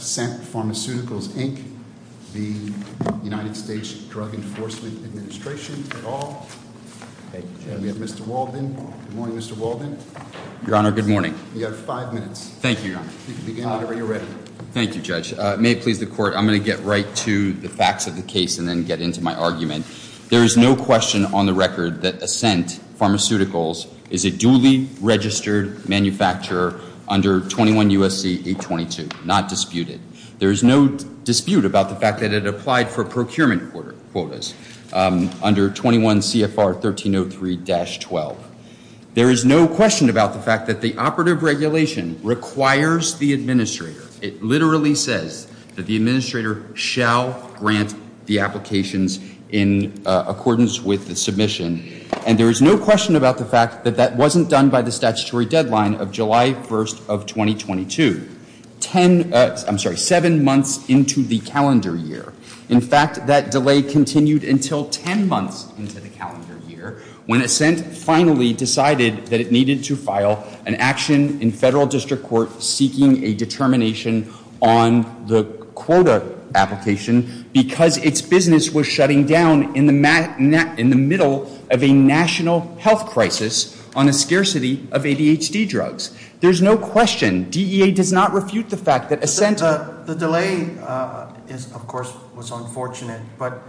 at all. We have Mr. Walden. Good morning, Mr. Walden. Your Honor, good morning. You have five minutes. Thank you, Your Honor. You can begin whenever you're ready. Thank you, Judge. May it please the Court, I'm going to get right to the facts of the case and then get into my argument. There is no question on the record that Ascent Pharmaceuticals is a duly registered manufacturer under 21 U.S.C. 822, not disputed. There is no question about the fact that it applied for procurement quotas under 21 CFR 1303-12. There is no question about the fact that the operative regulation requires the administrator. It literally says that the administrator shall grant the applications in accordance with the submission. And there is no question about the fact that that wasn't done by the statutory deadline of July 1st of 2022, 10, I'm sorry, seven months into the calendar year. In fact, that delay continued until 10 months into the calendar year when Ascent finally decided that it needed to file an action in federal district court seeking a determination on the quota application because its business was shutting down in the middle of a national health crisis on a scarcity of ADHD drugs. There is no question DEA does not refute the fact that Ascent... The delay, of course, was unfortunate, but,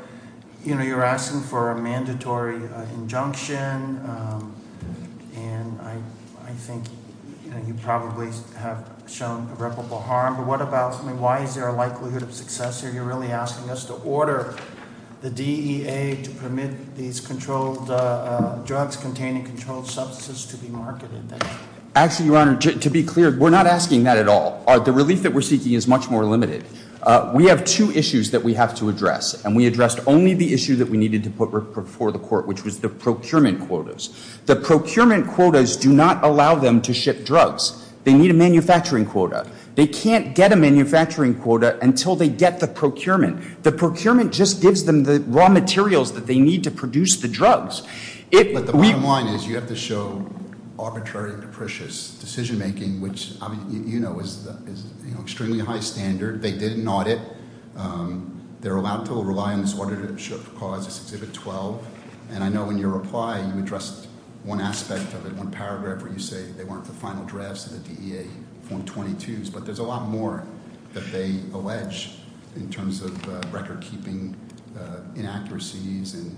you know, you're asking for a mandatory injunction and I think you probably have shown irreparable harm, but what about, I mean, why is there a likelihood of success here? You're really asking us to order the DEA to permit these drugs to be sold in the U.S. market. Actually, Your Honor, to be clear, we're not asking that at all. The relief that we're seeking is much more limited. We have two issues that we have to address and we addressed only the issue that we needed to put before the court, which was the procurement quotas. The procurement quotas do not allow them to ship drugs. They need a manufacturing quota. They can't get a manufacturing quota until they get the approval. So, you know, there's a lot of arbitrary and capricious decision-making, which you know is extremely high standard. They did an audit. They're allowed to rely on this order to ship the quotas, Exhibit 12, and I know in your reply you addressed one aspect of it, one paragraph where you say they weren't the final drafts of the DEA form 22s, but there's a lot more that they allege in terms of record-keeping inaccuracies and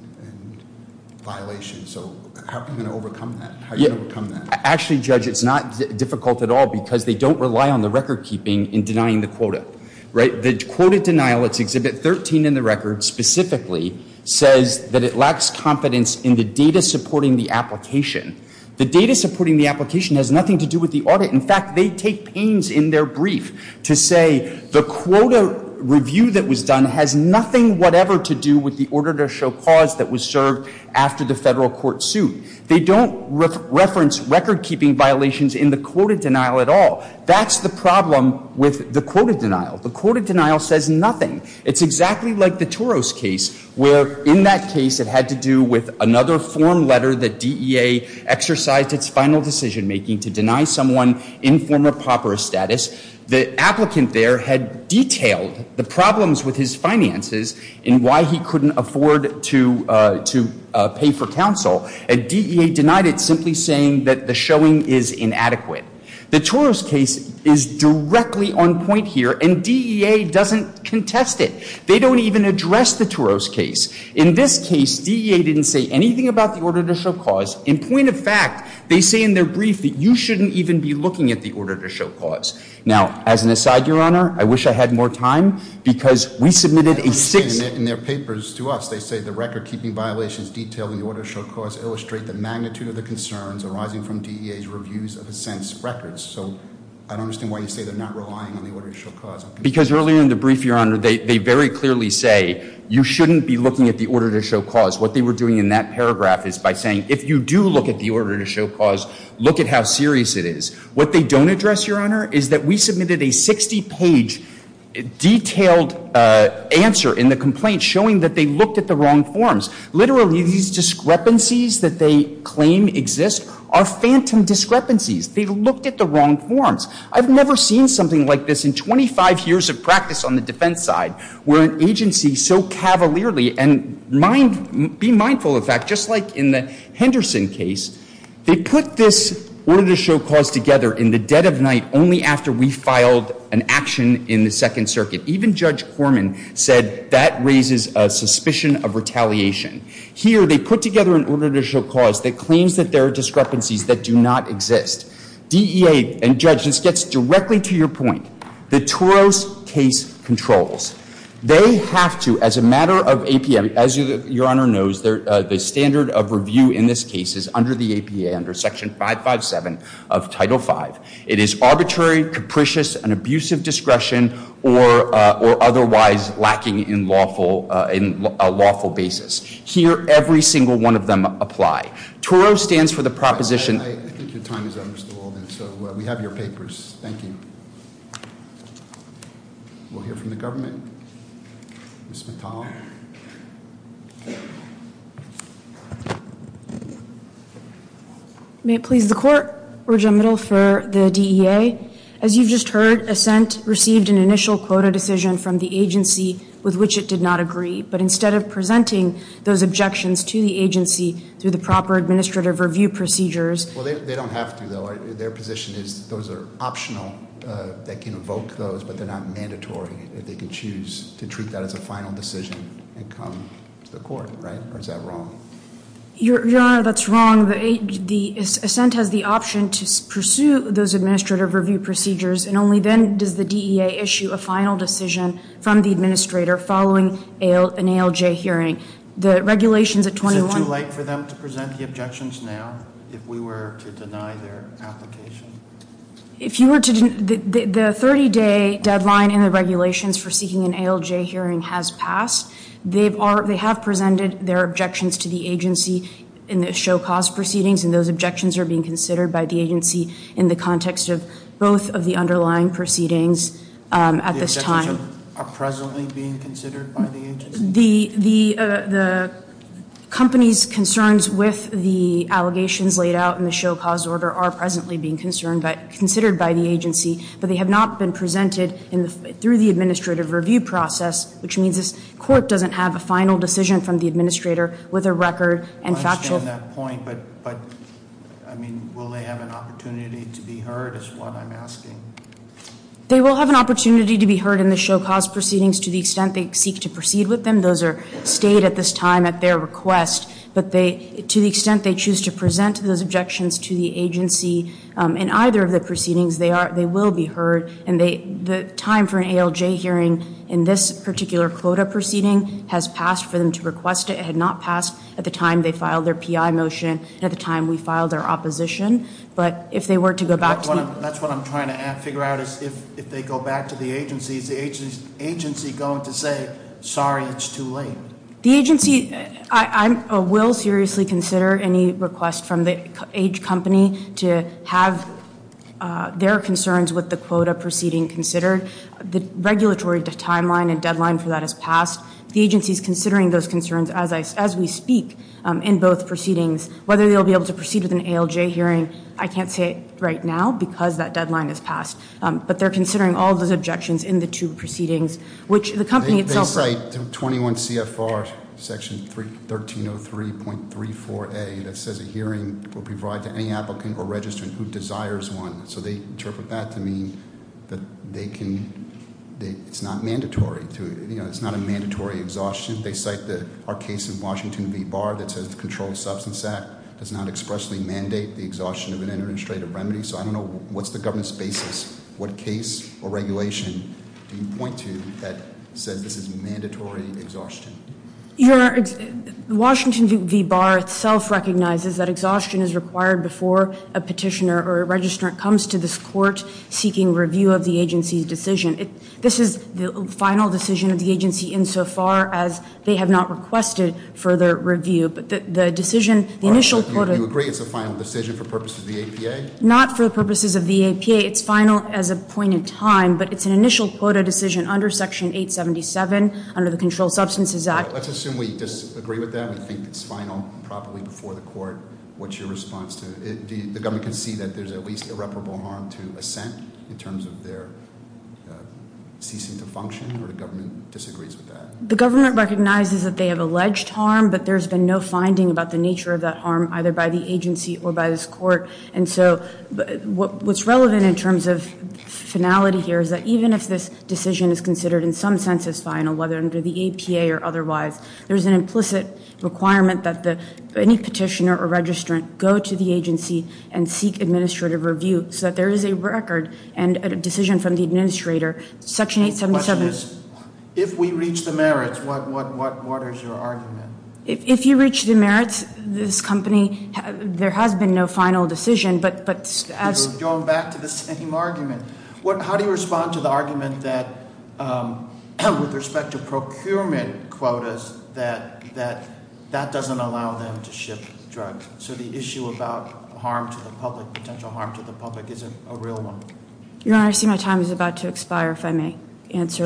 violations. So how are you going to overcome that? How are you going to overcome that? Actually, Judge, it's not difficult at all because they don't rely on the record-keeping in denying the quota, right? The quota denial, it's Exhibit 13 in the record specifically, says that it lacks confidence in the data supporting the application. The data supporting the application has nothing to do with the audit. In fact, they take pains in their brief to say the quota review that was done has nothing whatever to do with the order to show cause that was served after the Federal court suit. They don't reference record-keeping violations in the quota denial at all. That's the problem with the quota denial. The quota denial says nothing. It's exactly like the Toros case, where in that case it had to do with another form letter that DEA exercised its final decision-making to deny someone informer pauperous status. The applicant there had detailed the problems with his finances and why he couldn't afford to pay for counsel, and DEA denied it simply saying that the showing is inadequate. The Toros case is directly on point here, and DEA doesn't contest it. They don't even address the Toros case. In this case, DEA didn't say anything about the order to show cause. In point of fact, they say in their brief that you shouldn't even be looking at the order to show cause. Now, as an aside, Your Honor, I wish I had more time because we submitted a six... In their papers to us, they say the record-keeping violations detailed in the order to show cause illustrate the magnitude of the concerns arising from DEA's reviews of assent's records. So I don't understand why you say they're not relying on the order to show cause. Because earlier in the brief, Your Honor, they very clearly say you shouldn't be looking at the order to show cause. What they were doing in that paragraph is by saying if you do look at the order to show cause, look at how serious it is. What they don't address, Your Honor, is that we submitted a 60-page detailed answer in the complaint showing that they looked at the wrong forms. Literally, these discrepancies that they claim exist are phantom discrepancies. They looked at the wrong forms. I've never seen something like this in 25 years of practice on the defense side, where an agency so cavalierly... And be mindful of the fact, just like in the Henderson case, they put this order to show cause together in the dead of night only after we filed an action in the Second Circuit. Even Judge Corman said that raises a suspicion of retaliation. Here, they put together an order to show cause that claims that there are discrepancies that do not exist. DEA and judges, this gets directly to your point, the Toros case controls. They have to, as a matter of APM, as Your Honor knows, the standard of review in this case is under the APA, under Section 557 of Title V. It is arbitrary, capricious, an abuse of discretion, or otherwise lacking in a lawful basis. Here, every single one of them apply. TORO stands for the proposition... I think your time is up, Mr. Walden, so we have your papers. Thank you. We'll hear from the government. Ms. Mittal. May it please the Court, Regent Middle for the DEA. As you've just heard, Assent received an initial quota decision from the agency with which it did not agree. But instead of presenting those objections to the agency through the proper administrative review procedures... Well, they don't have to, though. Their position is those are optional, they can evoke those, but they're not mandatory. They can choose to treat that as a final decision and come to the Court, right? Or is that wrong? Your Honor, that's wrong. The Assent has the option to pursue those administrative review procedures, and only then does the DEA issue a final decision from the administrator following an ALJ hearing. The regulations at 21... Is it too late for them to present the objections now, if we were to deny their application? If you were to... The 30-day deadline in the regulations for seeking an ALJ hearing has passed. They have presented their objections to the agency in the show-cause proceedings, and those objections are being considered by the agency in the context of both of the underlying proceedings at this time. The objections are presently being considered by the agency? The company's concerns with the allegations laid out in the show-cause order are presently being considered by the agency, but they have not been presented through the administrative review process, which means this Court doesn't have a final decision from the administrator with a record and factual... I understand that point, but, I mean, will they have an opportunity to be heard is what I'm asking. They will have an opportunity to be heard in the show-cause proceedings to the extent they seek to proceed with them. Those are stayed at this time at their request, but to the extent they choose to present those objections to the agency in either of the proceedings, they will be heard, and the time for an ALJ hearing in this particular quota proceeding has passed for them to request it. It had not passed at the time they filed their PI motion and at the time we filed our opposition, but if they were to go back to the... That's what I'm trying to figure out, is if they go back to the agency, is the will seriously consider any request from the age company to have their concerns with the quota proceeding considered. The regulatory timeline and deadline for that has passed. The agency's considering those concerns as we speak in both proceedings. Whether they'll be able to proceed with an ALJ hearing, I can't say it right now because that deadline has passed, but they're considering all of those objections in the two proceedings, which the company itself... They cite 21 CFR section 1303.34A that says a hearing will provide to any applicant or registrant who desires one. So they interpret that to mean that they can... It's not mandatory to... It's not a mandatory exhaustion. They cite our case in Washington v. Barr that says the Controlled Substance Act does not expressly mandate the exhaustion of an administrative remedy. So I don't know what's the government's basis. What case or regulation do you point to that says this is mandatory exhaustion? Your... Washington v. Barr itself recognizes that exhaustion is required before a petitioner or a registrant comes to this court seeking review of the agency's decision. This is the final decision of the agency insofar as they have not requested further review. But the reasons of the APA, it's final as a point in time, but it's an initial quota decision under section 877 under the Controlled Substances Act. Let's assume we disagree with that. We think it's final properly before the court. What's your response to... The government can see that there's at least irreparable harm to assent in terms of their ceasing to function, or the government disagrees with that? The government recognizes that they have alleged harm, but there's been no finding about the nature of that harm either by the agency or by this court. And so what's relevant in terms of finality here is that even if this decision is considered in some sense as final, whether under the APA or otherwise, there's an implicit requirement that any petitioner or registrant go to the agency and seek administrative review so that there is a record and a decision from the administrator. Section 877... The question is if we reach the merits, what is your argument? If you reach the merits, this company, there has been no final decision, but... We're going back to the same argument. How do you respond to the argument that with respect to procurement quotas, that that doesn't allow them to ship drugs? So the issue about potential harm to the public isn't a real one. Your Honor, I see my time is about to expire if I may answer.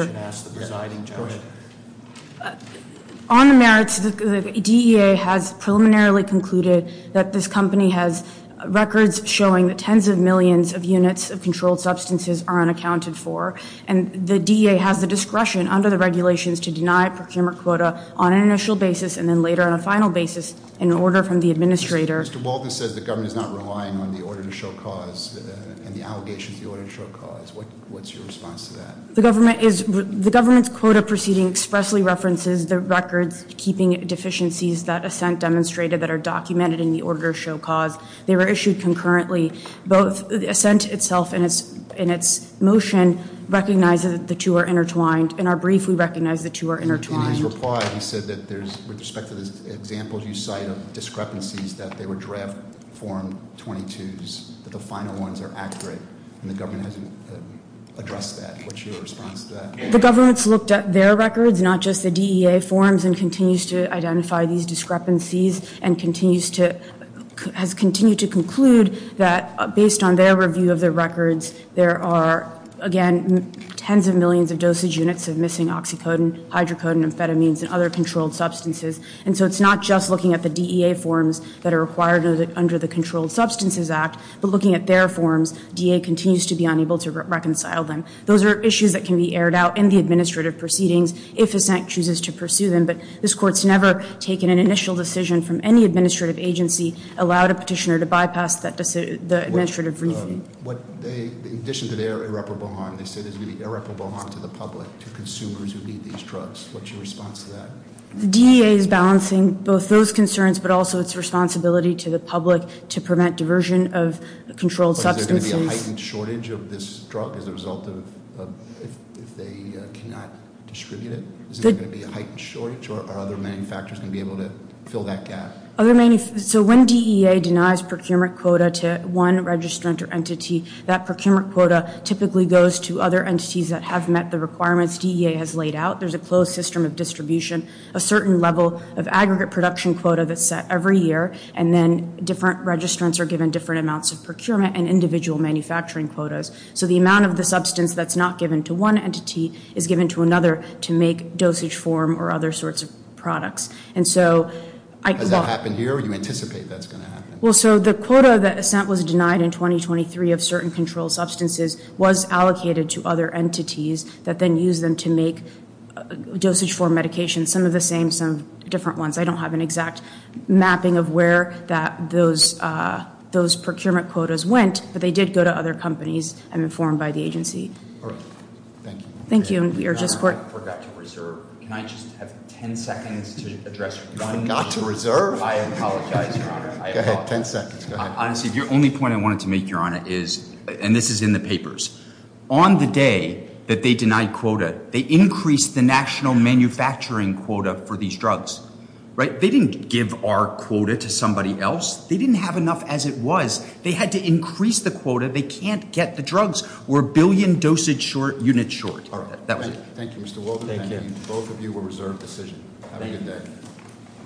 On the merits, the DEA has preliminarily concluded that this company has records showing that tens of millions of units of controlled substances are unaccounted for, and the DEA has the discretion under the regulations to deny procurement quota on an initial basis and then later on a final basis in order from the administrator. Mr. Walden says the government is not relying on the order to show cause and the allegations of the order to show cause. What's your response to that? The government quota proceeding expressly references the records keeping deficiencies that assent demonstrated that are documented in the order to show cause. They were issued concurrently. Both assent itself and its motion recognize that the two are intertwined in our brief, we recognize the two are intertwined. In his reply, he said that there's, with respect to the examples you cite of discrepancies that they were draft form 22s, that the final ones are accurate, and the government hasn't addressed that. What's your response to that? The government's looked at their records, not just the DEA forms, and continues to identify these discrepancies and continues to, has continued to conclude that based on their review of their records, there are, again, tens of millions of dosage units of missing oxycodone, hydrocodone, amphetamines, and other controlled substances. And so it's not just looking at the DEA forms that are required under the Controlled Substances Act, but looking at their forms, DEA continues to be unable to reconcile them. Those are issues that can be aired out in the administrative proceedings if assent chooses to pursue them, but this Court's never taken an initial decision from any administrative agency, allowed a petitioner to bypass the administrative review. In addition to their irreparable harm, they say there's going to be irreparable harm to the public, to consumers who need these drugs. What's your response to that? The DEA is balancing both those concerns, but also its responsibility to the public to prevent diversion of controlled substances. Is there going to be a heightened shortage of this drug as a result of, if they cannot distribute it? Is there going to be a heightened shortage, or are other manufacturers going to be able to fill that gap? So when DEA denies procurement quota to one registrant or entity, that procurement quota typically goes to other entities that have met the requirements DEA has laid out. There's a closed system of distribution, a certain level of aggregate production quota that's set every year, and then different registrants are given different amounts of procurement and individual manufacturing quotas. So the amount of the substance that's not given to one entity is given to another to make dosage form or other sorts of products. And so... Does that happen here, or do you anticipate that's going to happen? Well, so the quota that assent was denied in 2023 of certain controlled substances was allocated to other entities that then used them to make dosage form medications, some of the same, some different ones. I don't have an exact mapping of where those procurement quotas went, but they did go to other companies. I'm informed by the agency. Thank you. Thank you, and we are just... I forgot to reserve. Can I just have 10 seconds to address... You forgot to reserve? I apologize, Your Honor. Go ahead, 10 seconds. Honestly, the only point I wanted to make, Your Honor, is, and this is in the papers, on the day that they denied quota, they increased the national manufacturing quota for these drugs, right? They didn't give our quota to somebody else. They didn't have enough as it was. They had to increase the quota. They can't get the drugs. We're a billion dosage units short. Thank you, Mr. Wolden. Thank you. Both of you were reserved decision. Have a good day.